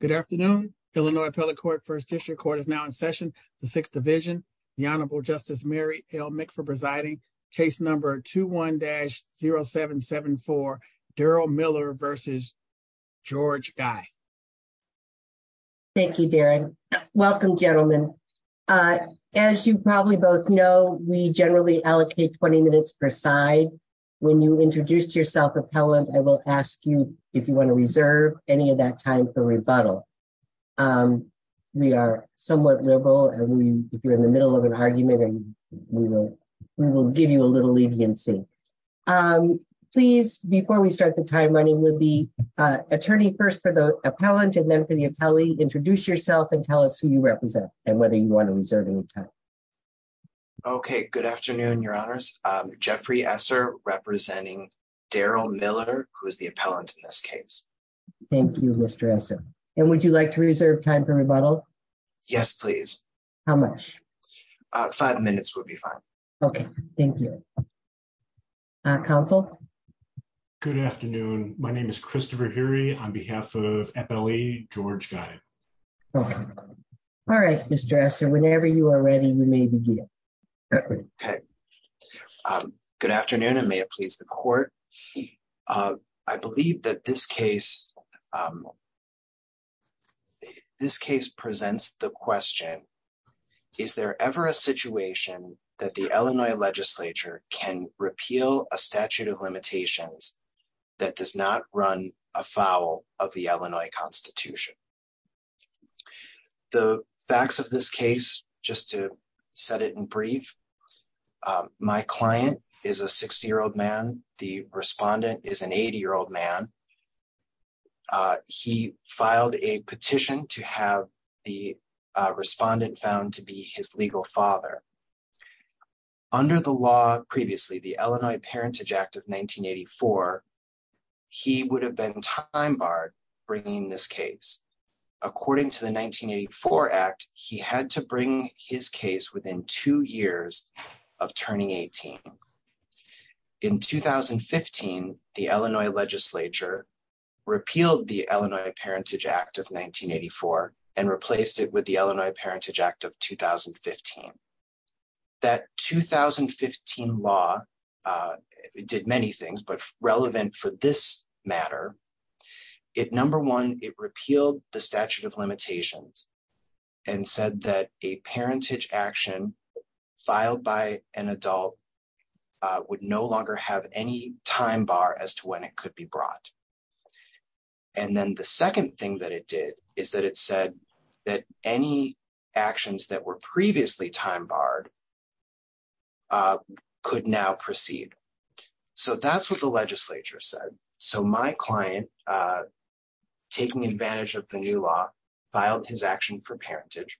Good afternoon, Illinois appellate court. 1st district court is now in session. The 6th division, the Honorable Justice Mary L. Mc for presiding case number 2, 1 dash 0774 Daryl Miller versus. George guy, thank you, Darren. Welcome gentlemen. As you probably both know, we generally allocate 20 minutes per side. When you introduce yourself appellant, I will ask you if you want to reserve any of that time for rebuttal. We are somewhat liberal and we, if you're in the middle of an argument and we will give you a little leniency. Please, before we start the time running with the attorney first for the appellant and then for the appellee introduce yourself and tell us who you represent, and whether you want to reserve any time. Okay, good afternoon, your honors, Jeffrey Sir, representing Daryl Miller, who is the appellant in this case. Thank you, Mr. And would you like to reserve time for rebuttal. Yes, please. How much five minutes would be fine. Okay, thank you. Council. Good afternoon. My name is Christopher Gary on behalf of George guy. All right, Mr. So whenever you are ready we may begin. Good afternoon and may it please the court. I believe that this case. This case presents the question. Is there ever a situation that the Illinois legislature can repeal a statute of limitations that does not run afoul of the Illinois Constitution. The facts of this case, just to set it in brief. My client is a 60 year old man, the respondent is an 80 year old man. He filed a petition to have the respondent found to be his legal father. Under the law, previously the Illinois Parentage Act of 1984. He would have been time bar bringing this case. According to the 1984 act, he had to bring his case within two years of turning 18. In 2015, the Illinois legislature repealed the Illinois Parentage Act of 1984 and replaced it with the Illinois Parentage Act of 2015 that 2015 law did many things but relevant for this matter. It number one, it repealed the statute of limitations and said that a parentage action filed by an adult would no longer have any time bar as to when it could be brought. And then the second thing that it did is that it said that any actions that were previously time barred could now proceed. So that's what the legislature said. So my client, taking advantage of the new law, filed his action for parentage.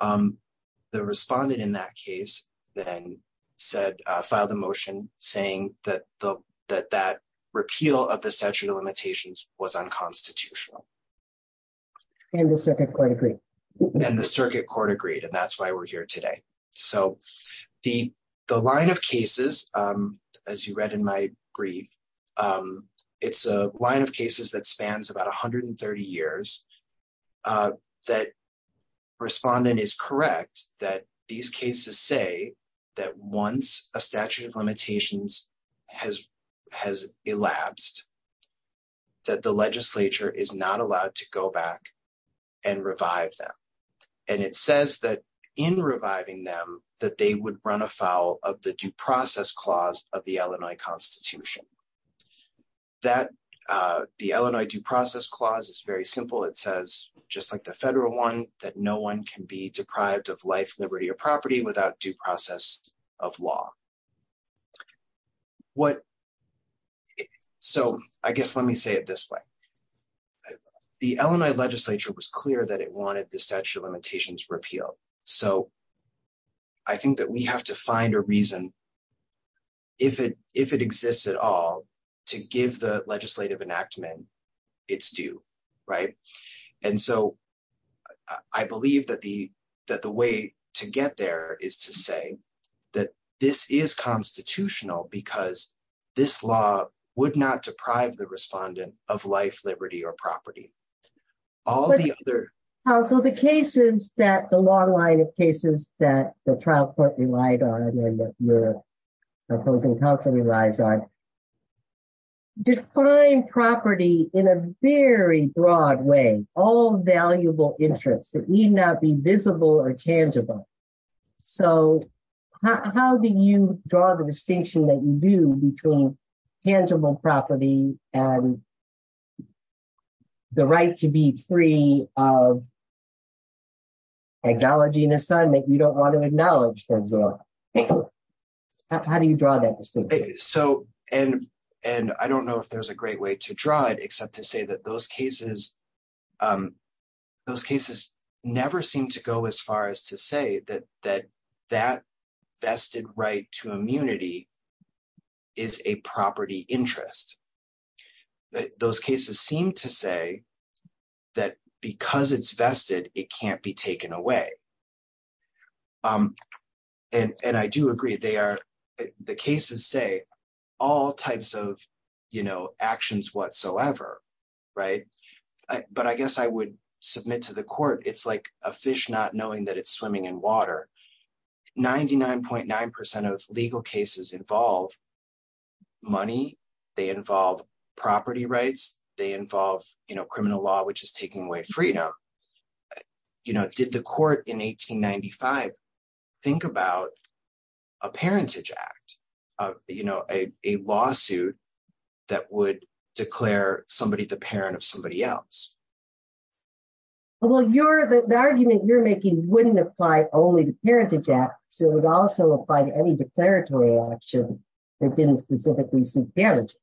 The respondent in that case, then said, filed a motion saying that the that that repeal of the statute of limitations was unconstitutional. And the circuit court agreed. And the circuit court agreed and that's why we're here today. So, the, the line of cases. As you read in my brief. It's a line of cases that spans about 130 years that respondent is correct that these cases say that once a statute of limitations has has elapsed that the legislature is not allowed to go back and revive them. And it says that in reviving them that they would run afoul of the due process clause of the Illinois Constitution that the Illinois due process clause is very simple. It says, just like the federal one that no one can be deprived of life, liberty or property without due process of law. What. So, I guess let me say it this way. The Illinois legislature was clear that it wanted the statute of limitations repeal. So, I think that we have to find a reason. If it, if it exists at all to give the legislative enactment. It's do right. And so I believe that the, that the way to get there is to say that this is constitutional because this law would not deprive the respondent of life, liberty or property. All the other. So the cases that the long line of cases that the trial court relied on your opposing counsel relies on property in a very broad way, all valuable interest that need not be visible or tangible. So, how do you draw the distinction that you do between tangible property, and the right to be free of technology and assignment you don't want to acknowledge that. How do you draw that. So, and, and I don't know if there's a great way to draw it except to say that those cases. Those cases, never seem to go as far as to say that that that vested right to immunity is a property interest that those cases seem to say that because it's vested, it can't be taken away. And I do agree they are the cases say all types of, you know, actions whatsoever. Right. But I guess I would submit to the court, it's like a fish not knowing that it's swimming in water. 99.9% of legal cases involve money. They involve property rights, they involve, you know, criminal law which is taking away freedom. You know, did the court in 1895. Think about a parentage act of, you know, a lawsuit that would declare somebody the parent of somebody else. Well you're the argument you're making wouldn't apply only to parentage act, so it also apply to any declaratory action that didn't specifically see damages.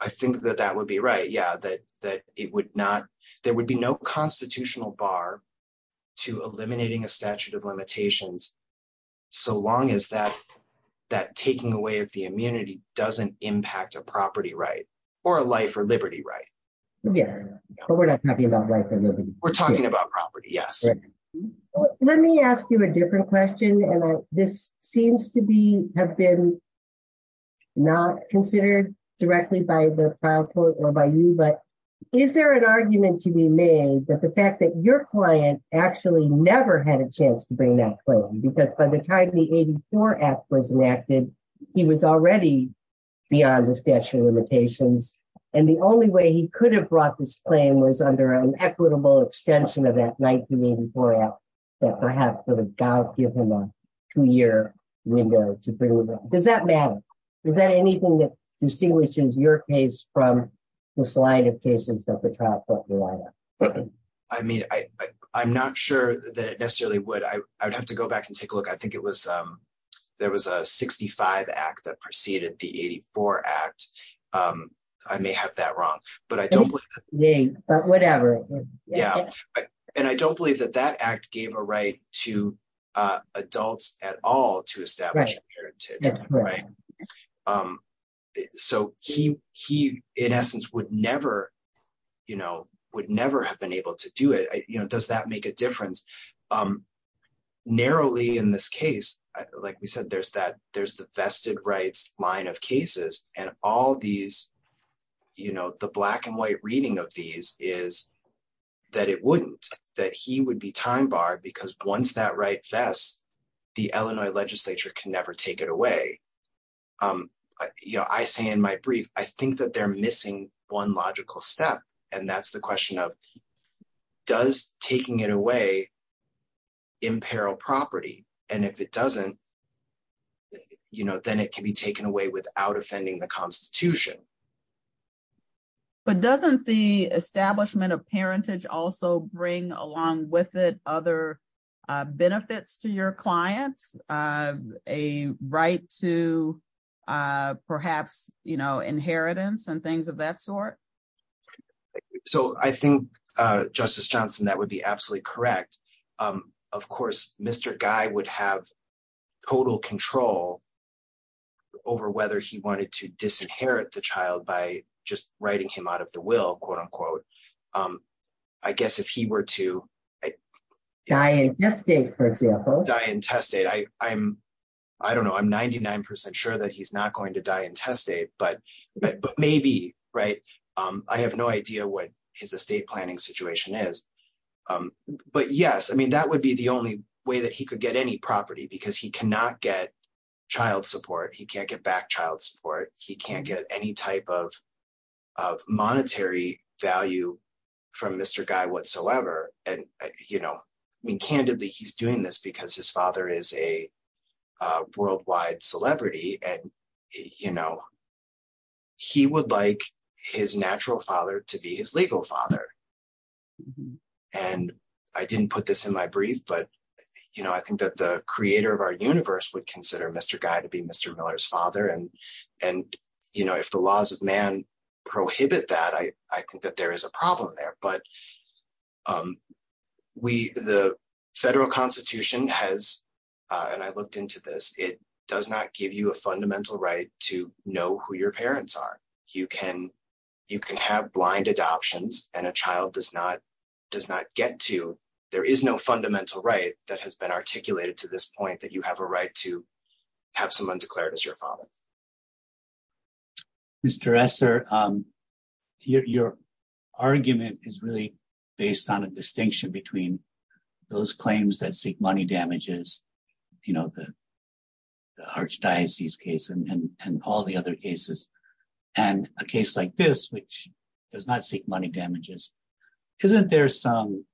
I think that that would be right yeah that that it would not, there would be no constitutional bar to eliminating a statute of limitations. So long as that that taking away of the immunity doesn't impact a property right or a life or liberty right. Yeah, but we're not talking about. We're talking about property. Yes. Let me ask you a different question and this seems to be have been not considered directly by the court or by you but is there an argument to be made that the fact that your client actually never had a chance to bring that claim because by the time the brought this claim was under an equitable extension of that 1984 app that I have to give him a two year window. Does that matter. Is that anything that distinguishes your case from the slide of cases that the trap. I mean, I, I'm not sure that it necessarily would I would have to go back and take a look I think it was. There was a 65 act that preceded the 84 act. I may have that wrong, but I don't believe me, but whatever. Yeah. And I don't believe that that act gave a right to adults at all to establish. Right. So, he, he, in essence would never, you know, would never have been able to do it, you know, does that make a difference. Narrowly in this case, like we said there's that there's the vested rights line of cases, and all these, you know, the black and white reading of these is that it wouldn't that he would be time bar because once that right fast. The Illinois legislature can never take it away. You know I say in my brief, I think that they're missing one logical step. And that's the question of does taking it away imperil property, and if it doesn't, you know, then it can be taken away without offending the Constitution. But doesn't the establishment of parentage also bring along with it other benefits to your client, a right to perhaps, you know, inheritance and things of that sort. So I think, Justice Johnson, that would be absolutely correct. Of course, Mr. Guy would have total control over whether he wanted to disinherit the child by just writing him out of the will, quote unquote. I guess if he were to die, for example, die intestate I, I'm, I don't know I'm 99% sure that he's not going to die intestate but maybe right. I have no idea what his estate planning situation is. But yes, I mean that would be the only way that he could get any property because he cannot get child support he can't get back child support, he can't get any type of of monetary value from Mr. And, you know, I mean candidly he's doing this because his father is a worldwide celebrity and, you know, he would like his natural father to be his legal father. And I didn't put this in my brief but you know I think that the creator of our universe would consider Mr. Guy to be Mr. Miller's father and, and, you know, if the laws of man prohibit that I, I think that there is a problem there but we, the federal constitution has. And I looked into this, it does not give you a fundamental right to know who your parents are. You can, you can have blind adoptions, and a child does not does not get to. There is no fundamental right that has been articulated to this point that you have a right to have someone declared as your father, Mr. Professor, your argument is really based on a distinction between those claims that seek money damages. You know the archdiocese case and all the other cases, and a case like this which does not seek money damages. Isn't there some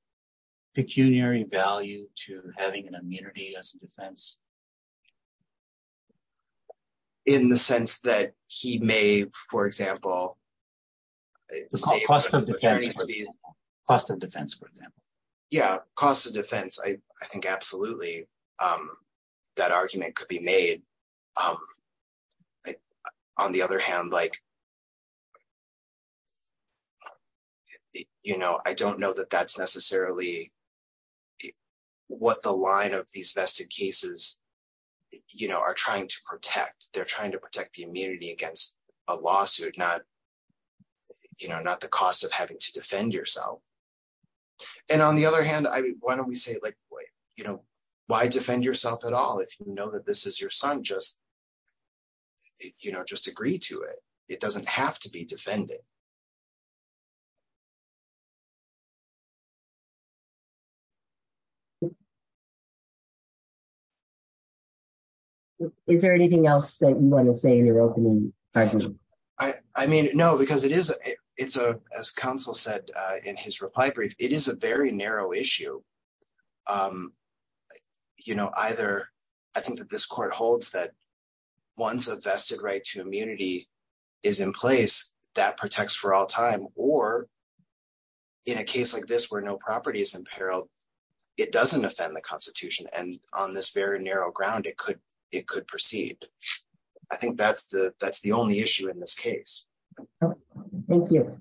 pecuniary value to having an immunity as a defense. In the sense that he may, for example, cost of defense for them. Yeah, cost of defense I think absolutely that argument could be made. On the other hand, like, you know, I don't know that that's necessarily what the line of these vested cases, you know, are trying to protect they're trying to protect the immunity against a lawsuit not, you know, not the cost of having to defend yourself. And on the other hand, why don't we say like, you know, why defend yourself at all if you know that this is your son just, you know, just agree to it. It doesn't have to be defended. Is there anything else that you want to say in your opening. I mean, no, because it is. It's a, as counsel said in his reply brief, it is a very narrow issue. You know, either. I think that this court holds that once a vested right to immunity is in place that protects for all time, or in a case like this where no property is in peril. It doesn't offend the Constitution and on this very narrow ground it could it could proceed. I think that's the, that's the only issue in this case. Thank you.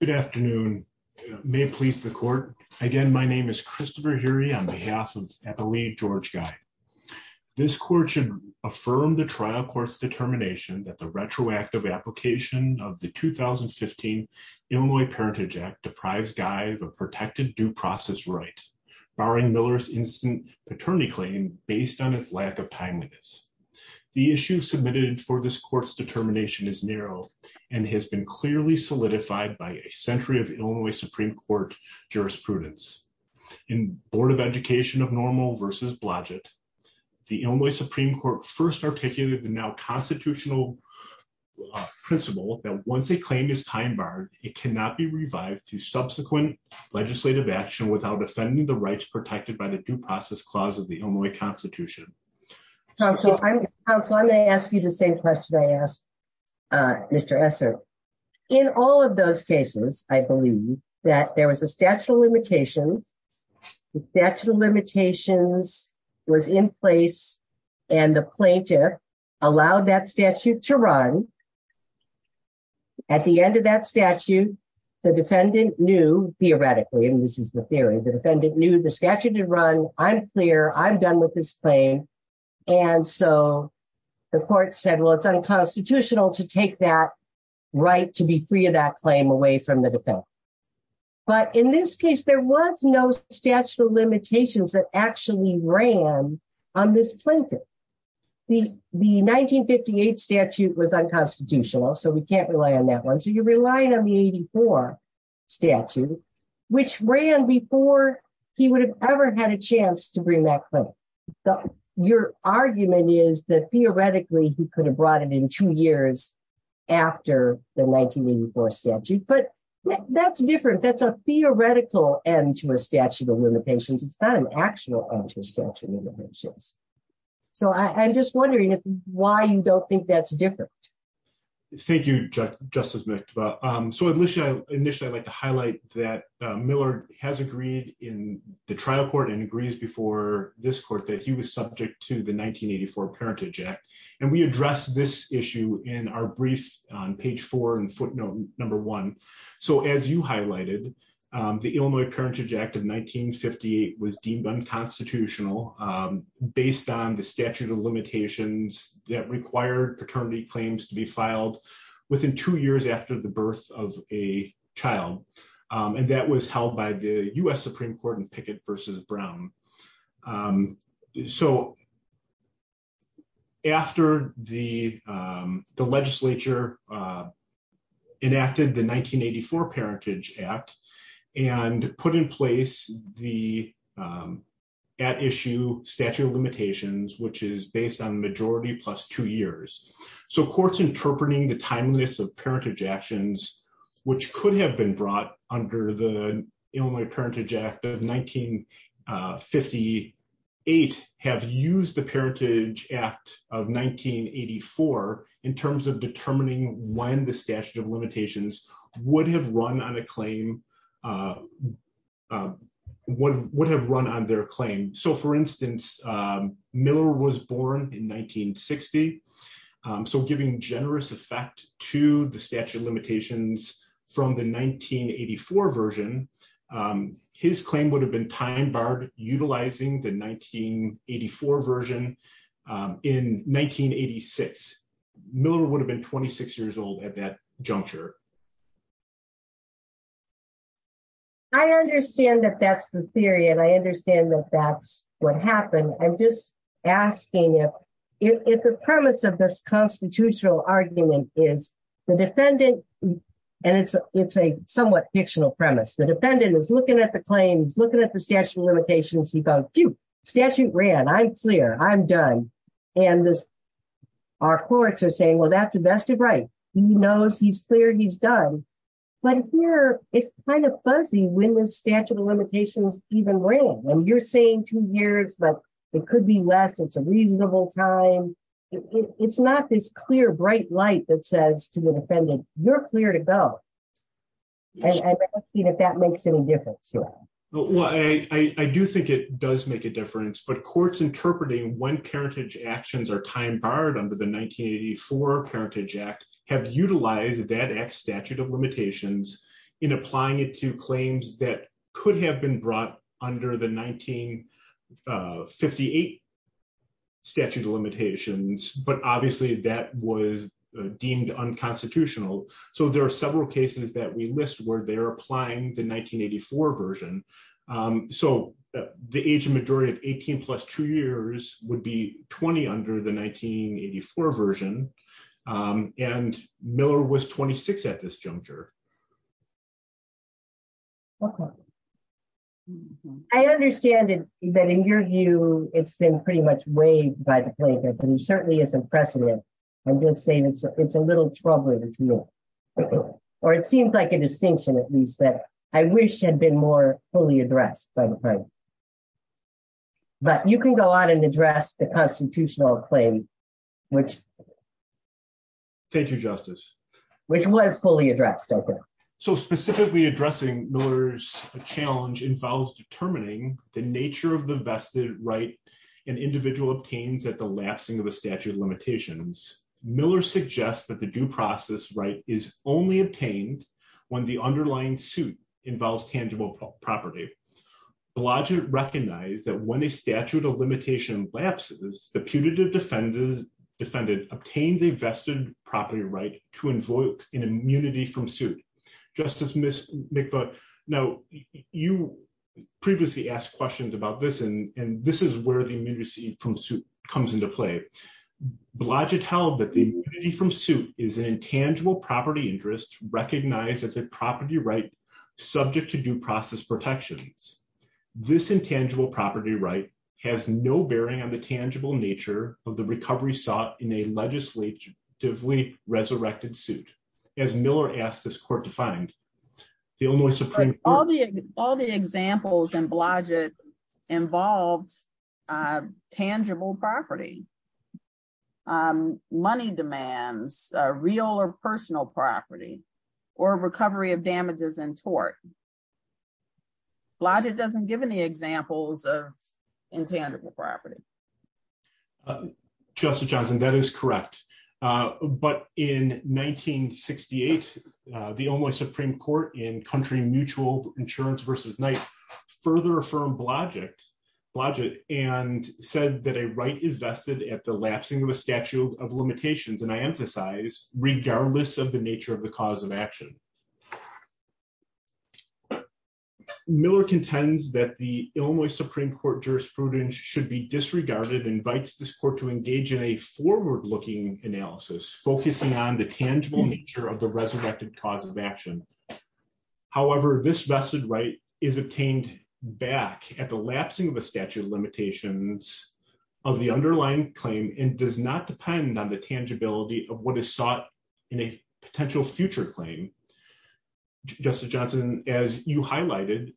Good afternoon, may please the court. Again, my name is Christopher Gary on behalf of the lead George guy. This court should affirm the trial courts determination that the retroactive application of the Illinois Parentage Act deprives guys are protected due process right barring Miller's instant paternity claim, based on his lack of timeliness. The issue submitted for this court's determination is narrow, and has been clearly solidified by a century of Illinois Supreme Court jurisprudence in Board of Education of normal versus budget. The only Supreme Court first articulated the now constitutional principle that once a claim is time barred, it cannot be revived to subsequent legislative action without offending the rights protected by the due process clause of the Illinois Constitution. So I'm going to ask you the same question I asked. Mr. In all of those cases, I believe that there was a statute of limitations. The statute of limitations was in place, and the plaintiff allowed that statute to run. At the end of that statute, the defendant knew theoretically and this is the theory the defendant knew the statute to run, I'm clear I'm done with this claim. And so, the court said well it's unconstitutional to take that right to be free of that claim away from the defense. But in this case there was no statute of limitations that actually ran on this plaintiff. The 1958 statute was unconstitutional so we can't rely on that one so you're relying on the 84 statute, which ran before he would have ever had a chance to bring that claim. Your argument is that theoretically he could have brought it in two years after the 1984 statute but that's different that's a theoretical end to a statute of limitations, it's not an actual statute of limitations. So I'm just wondering why you don't think that's different. Thank you, Justice. So initially, initially I'd like to highlight that Miller has agreed in the trial court and agrees before this court that he was subject to the 1984 Parentage Act, and we address this issue in our brief on page four and footnote number one. So as you highlighted, the Illinois Parentage Act of 1958 was deemed unconstitutional, based on the statute of limitations that required paternity claims to be filed within two years after the birth of a child. And that was held by the US Supreme Court in Pickett versus Brown. So, after the legislature enacted the 1984 Parentage Act, and put in place the at issue statute of limitations which is based on majority plus two years. So courts interpreting the timeliness of parentage actions, which could have been brought under the Illinois Parentage Act of 1958 have used the Parentage Act of 1984, in terms of determining when the statute of limitations would have run on a claim. What would have run on their claim. So for instance, Miller was born in 1960. So giving generous effect to the statute of limitations from the 1984 version. His claim would have been time barred utilizing the 1984 version in 1986 Miller would have been 26 years old at that juncture. I understand that that's the theory and I understand that that's what happened. I'm just asking if it's a premise of this constitutional argument is the defendant. And it's, it's a somewhat fictional premise the defendant is looking at the claims looking at the statute of limitations he got to statute ran I'm clear I'm done. And this. Our courts are saying well that's the best of right. He knows he's clear he's done. But here, it's kind of fuzzy when the statute of limitations, even when you're saying two years but it could be less it's a reasonable time. It's not this clear bright light that says to the defendant, you're clear to go. If that makes any difference. Well, I do think it does make a difference but courts interpreting when parentage actions are time barred under the 1984 parentage act have utilized that x statute of limitations in applying it to claims that could have been brought under the 1958 statute of limitations, but obviously that was deemed unconstitutional. So there are several cases that we list where they're applying the 1984 version. So, the age of majority of 18 plus two years would be 20 under the 1984 version, and Miller was 26 at this juncture. Okay. I understand that in your view, it's been pretty much waived by the plaintiff and he certainly is impressive and just say that it's a little troubling. Or it seems like a distinction at least that I wish had been more fully addressed by the time. But you can go on and address the constitutional claim, which. Thank you, Justice, which was fully addressed. So specifically addressing Miller's challenge involves determining the nature of the vested right and individual obtains that the lapsing of a statute of limitations Miller suggests that the due process right is only obtained when the underlying suit involves tangible property. Blodgett recognized that when a statute of limitation lapses, the punitive defendant obtains a vested property right to invoke an immunity from suit. Justice Miss McFaul. Now, you previously asked questions about this and this is where the emergency from suit comes into play. Blodgett held that the immunity from suit is an intangible property interest recognized as a property right subject to due process protections. This intangible property right has no bearing on the tangible nature of the recovery sought in a legislatively resurrected suit. As Miller asked this court to find the Illinois Supreme Court. All the, all the examples and Blodgett involved tangible property money demands, real or personal property or recovery of damages and tort logic doesn't give any examples of intangible property. Justice Johnson that is correct. But in 1968, the only Supreme Court in country mutual insurance versus night further from Blodgett Blodgett, and said that a right is vested at the lapsing of a statute of limitations and I emphasize, regardless of the nature of the cause of action. Miller contends that the only Supreme Court jurisprudence should be disregarded invites this court to engage in a forward looking analysis focusing on the tangible nature of the resurrected cause of action. However, this vested right is obtained back at the lapsing of a statute of limitations of the underlying claim and does not depend on the tangibility of what is sought in a potential future claim. Justice Johnson, as you highlighted.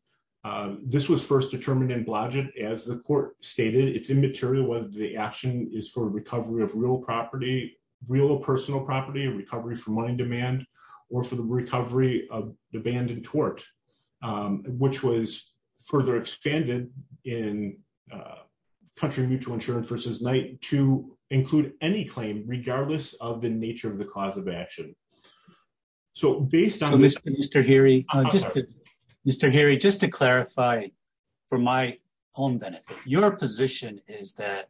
This was first determined in Blodgett, as the court stated it's immaterial whether the action is for recovery of real property, real personal property and recovery for money demand, or for the recovery of the band and tort, which was further expanded in country mutual insurance versus night to include any claim, regardless of the nature of the cause of action. So, based on this. Mr Harry. Mr Harry just to clarify, for my own benefit, your position is that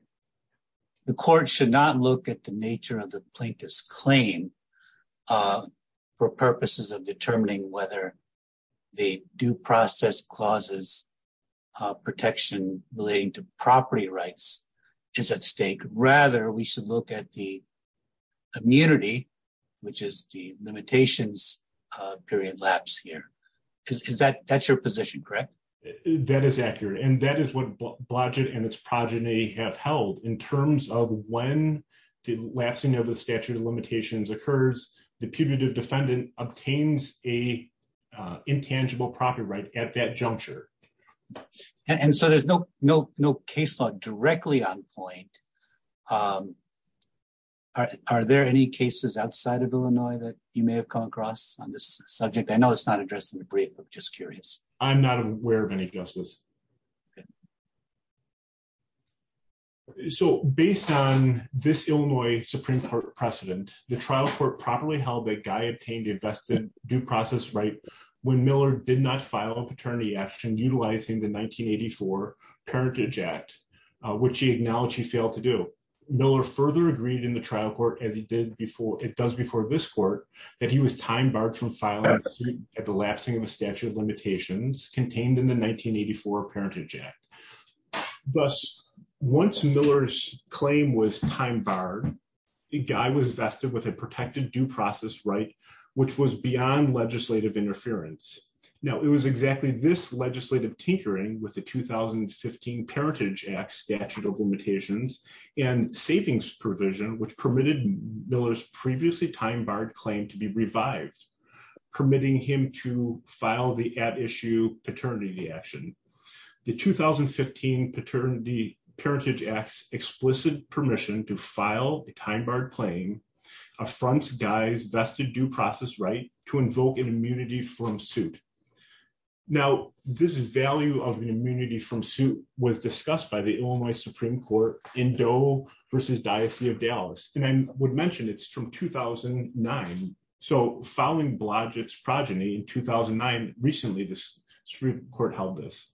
the court should not look at the nature of the plaintiff's claim. For purposes of determining whether the due process clauses protection, relating to property rights is at stake, rather we should look at the immunity, which is the limitations period lapse here is that that's your position correct. That is accurate and that is what budget and its progeny have held in terms of when the lapsing of the statute of limitations occurs, the punitive defendant obtains a intangible property right at that juncture. And so there's no, no, no caseload directly on point. Are there any cases outside of Illinois that you may have come across on this subject I know it's not addressed in the brief of just curious, I'm not aware of any justice. So, based on this Illinois Supreme Court precedent, the trial for properly held that guy obtained invested due process right when Miller did not file a paternity action utilizing the 1984 parentage act, which he acknowledged he failed to do Miller further agreed in the trial court as he did before it does before this court that he was time barred from filing at the lapsing of the statute of limitations contained in the 1984 parentage act. Thus, once Miller's claim was time bar, the guy was vested with a protected due process right, which was beyond legislative interference. Now it was exactly this legislative tinkering with the 2015 parentage act statute of limitations and savings provision which permitted Miller's previously time barred claim to be revived, permitting him to file the at issue paternity action. The 2015 paternity parentage acts explicit permission to file a time barred claim affronts guys vested due process right to invoke an immunity from suit. Now, this is value of the immunity from suit was discussed by the Illinois Supreme Court in Doe versus Diocese of Dallas, and I would mention it's from 2009. So following Blodgett's progeny in 2009, recently the Supreme Court held this.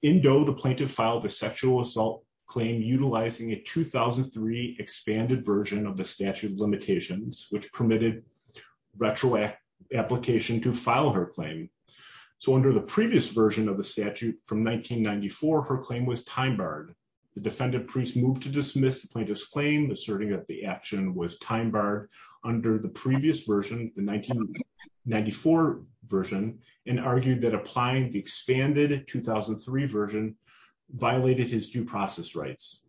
In Doe, the plaintiff filed a sexual assault claim utilizing a 2003 expanded version of the statute of limitations, which permitted retroactive application to file her claim. So under the previous version of the statute from 1994, her claim was time barred. The defendant priest moved to dismiss the plaintiff's claim, asserting that the action was time barred under the previous version, the 1994 version, and argued that applying the expanded 2003 version violated his due process rights.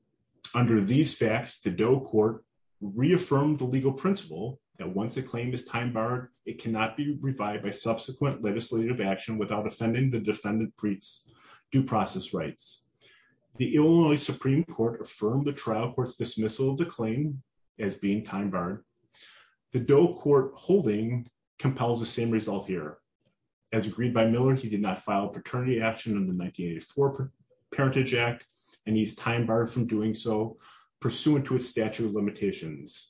Under these facts, the Doe court reaffirmed the legal principle that once a claim is time barred, it cannot be revived by subsequent legislative action without offending the defendant priest's due process rights. The Illinois Supreme Court affirmed the trial court's dismissal of the claim as being time barred. The Doe court holding compels the same result here. As agreed by Miller, he did not file a paternity action in the 1984 Parentage Act, and he's time barred from doing so, pursuant to a statute of limitations.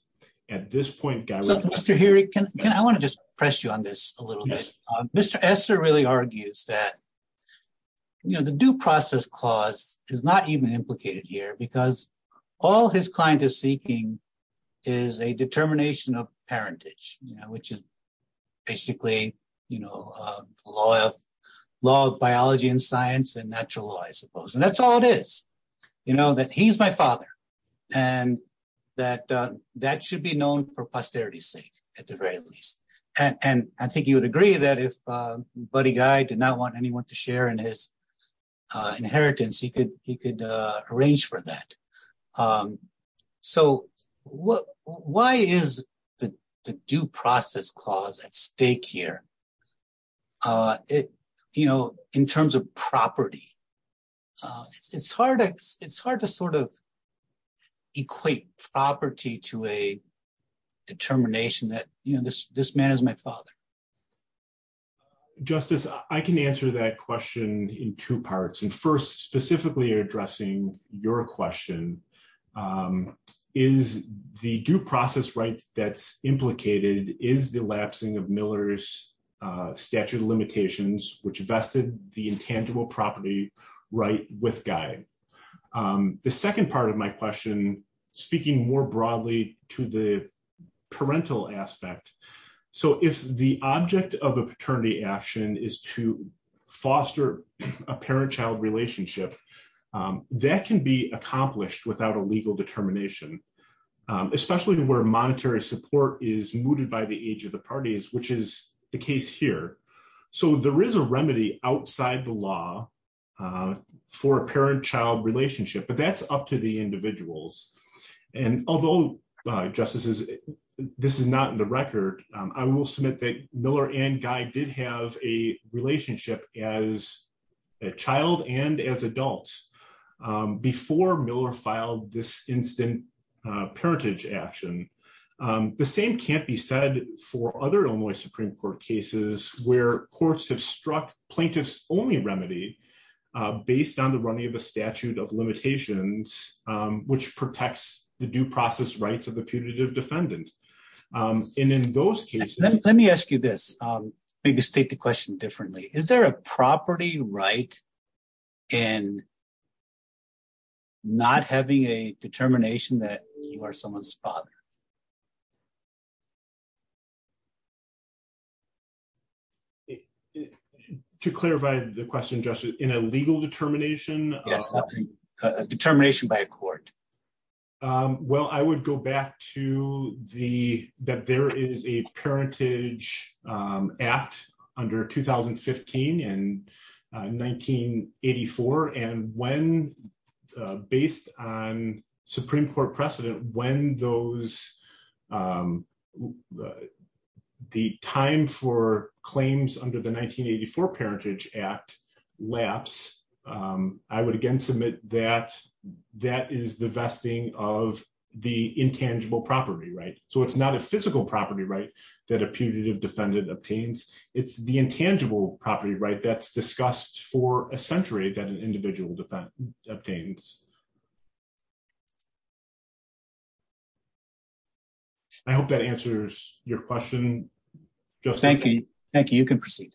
At this point... I want to just press you on this a little bit. Mr. Esser really argues that, you know, the due process clause is not even implicated here because all his client is seeking is a determination of parentage, which is basically, you know, law of biology and science and natural law, I suppose, and that's all it is. You know, that he's my father, and that that should be known for posterity's sake, at the very least. And I think you would agree that if Buddy Guy did not want anyone to share in his inheritance, he could arrange for that. So, why is the due process clause at stake here? You know, in terms of property. It's hard to sort of equate property to a determination that, you know, this man is my father. Justice, I can answer that question in two parts. And first, specifically addressing your question. Is the due process right that's implicated, is the lapsing of Miller's statute of limitations, which vested the intangible property right with Guy? The second part of my question, speaking more broadly to the parental aspect. So, if the object of a paternity action is to foster a parent-child relationship, that can be accomplished without a legal determination, especially where monetary support is mooted by the age of the parties, which is the case here. So, there is a remedy outside the law for a parent-child relationship, but that's up to the individuals. And although, Justices, this is not in the record, I will submit that Miller and Guy did have a relationship as a child and as adults before Miller filed this instant parentage action. The same can't be said for other Illinois Supreme Court cases where courts have struck plaintiffs-only remedy based on the running of the statute of limitations, which protects the due process rights of the putative defendant. And in those cases... Let me ask you this, maybe state the question differently. Is there a property right in not having a determination that you are someone's father? To clarify the question, Justice, in a legal determination? Well, I would go back to that there is a parentage act under 2015 and 1984. And when, based on Supreme Court precedent, when the time for claims under the 1984 parentage act lapsed, I would again submit that that is the vesting of the intangible property right. So it's not a physical property right that a putative defendant obtains. It's the intangible property right that's discussed for a century that an individual obtains. I hope that answers your question, Justice. Thank you. Thank you. You can proceed.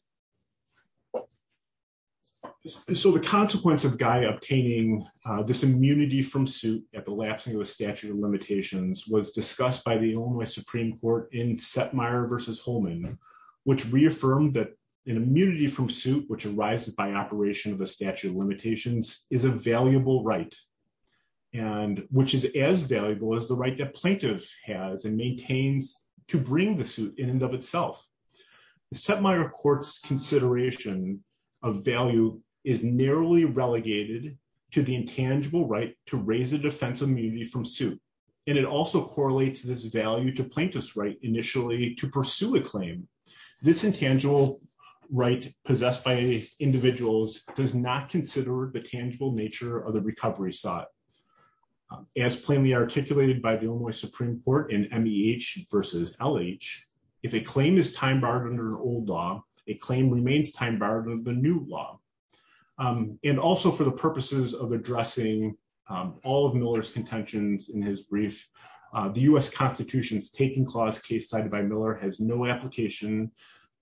So the consequence of Guy obtaining this immunity from suit at the lapsing of the statute of limitations was discussed by the Illinois Supreme Court in Setmire v. Holman, which reaffirmed that an immunity from suit, which arises by operation of a statute of limitations, is a valuable right, and which is as valuable as the right that plaintiff has and maintains to bring the suit in and of itself. The Setmire court's consideration of value is narrowly relegated to the intangible right to raise a defense immunity from suit, and it also correlates this value to plaintiff's right initially to pursue a claim. This intangible right possessed by individuals does not consider the tangible nature of the recovery sought. As plainly articulated by the Illinois Supreme Court in MEH v. LH, if a claim is time-barred under an old law, a claim remains time-barred under the new law. And also for the purposes of addressing all of Miller's contentions in his brief, the U.S. Constitution's taking clause case cited by Miller has no application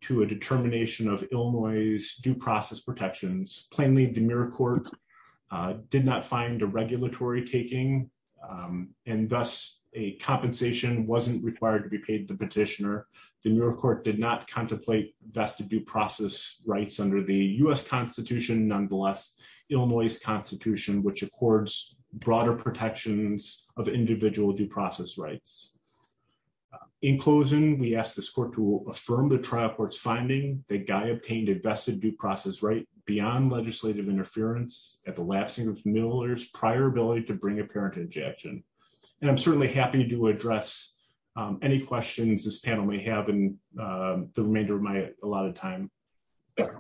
to a determination of Illinois's due process protections. Plainly, the Miller court did not find a regulatory taking, and thus a compensation wasn't required to be paid to the petitioner. The Miller court did not contemplate vested due process rights under the U.S. Constitution, nonetheless Illinois's Constitution, which accords broader protections of individual due process rights. In closing, we ask this court to affirm the trial court's finding that Guy obtained a vested due process right beyond legislative interference at the lapsing of Miller's prior ability to bring a parent to injection. And I'm certainly happy to address any questions this panel may have in the remainder of my allotted time.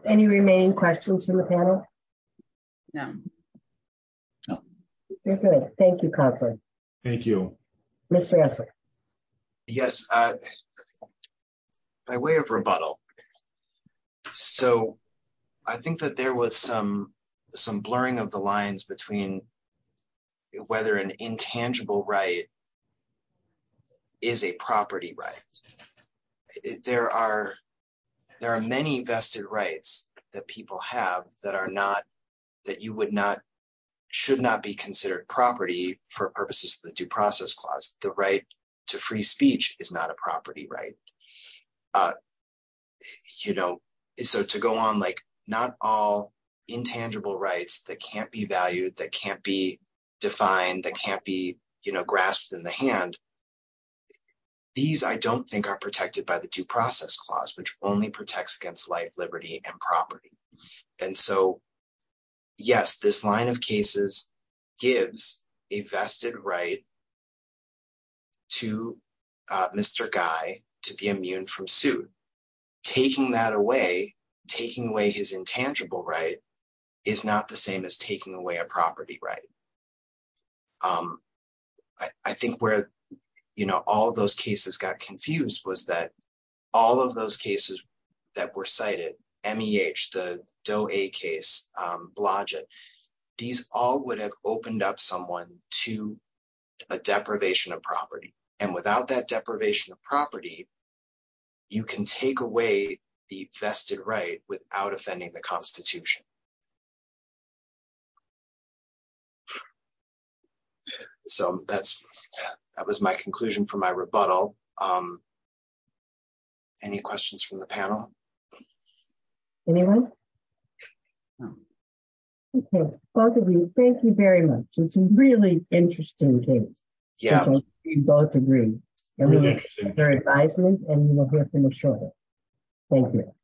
Any remaining questions from the panel? No. Thank you, Confer. Thank you. Mr. Esler. Yes. By way of rebuttal. So, I think that there was some, some blurring of the lines between whether an intangible right is a property right. There are, there are many vested rights that people have that are not that you would not should not be considered property for purposes of the Due Process Clause, the right to free speech is not a property right. You know, so to go on like, not all intangible rights that can't be valued that can't be defined that can't be, you know, grasped in the hand. These I don't think are protected by the Due Process Clause which only protects against life, liberty and property. And so, yes, this line of cases gives a vested right to Mr. Guy to be immune from suit. Taking that away, taking away his intangible right is not the same as taking away a property right. Um, I think where, you know, all those cases got confused was that all of those cases that were cited me H the dough a case blogic. These all would have opened up someone to a deprivation of property, and without that deprivation of property. You can take away the vested right without offending the Constitution. So that's, that was my conclusion for my rebuttal. Any questions from the panel. Anyone. Okay, both of you. Thank you very much. It's really interesting. Yeah, both agree. Very nice. Thank you.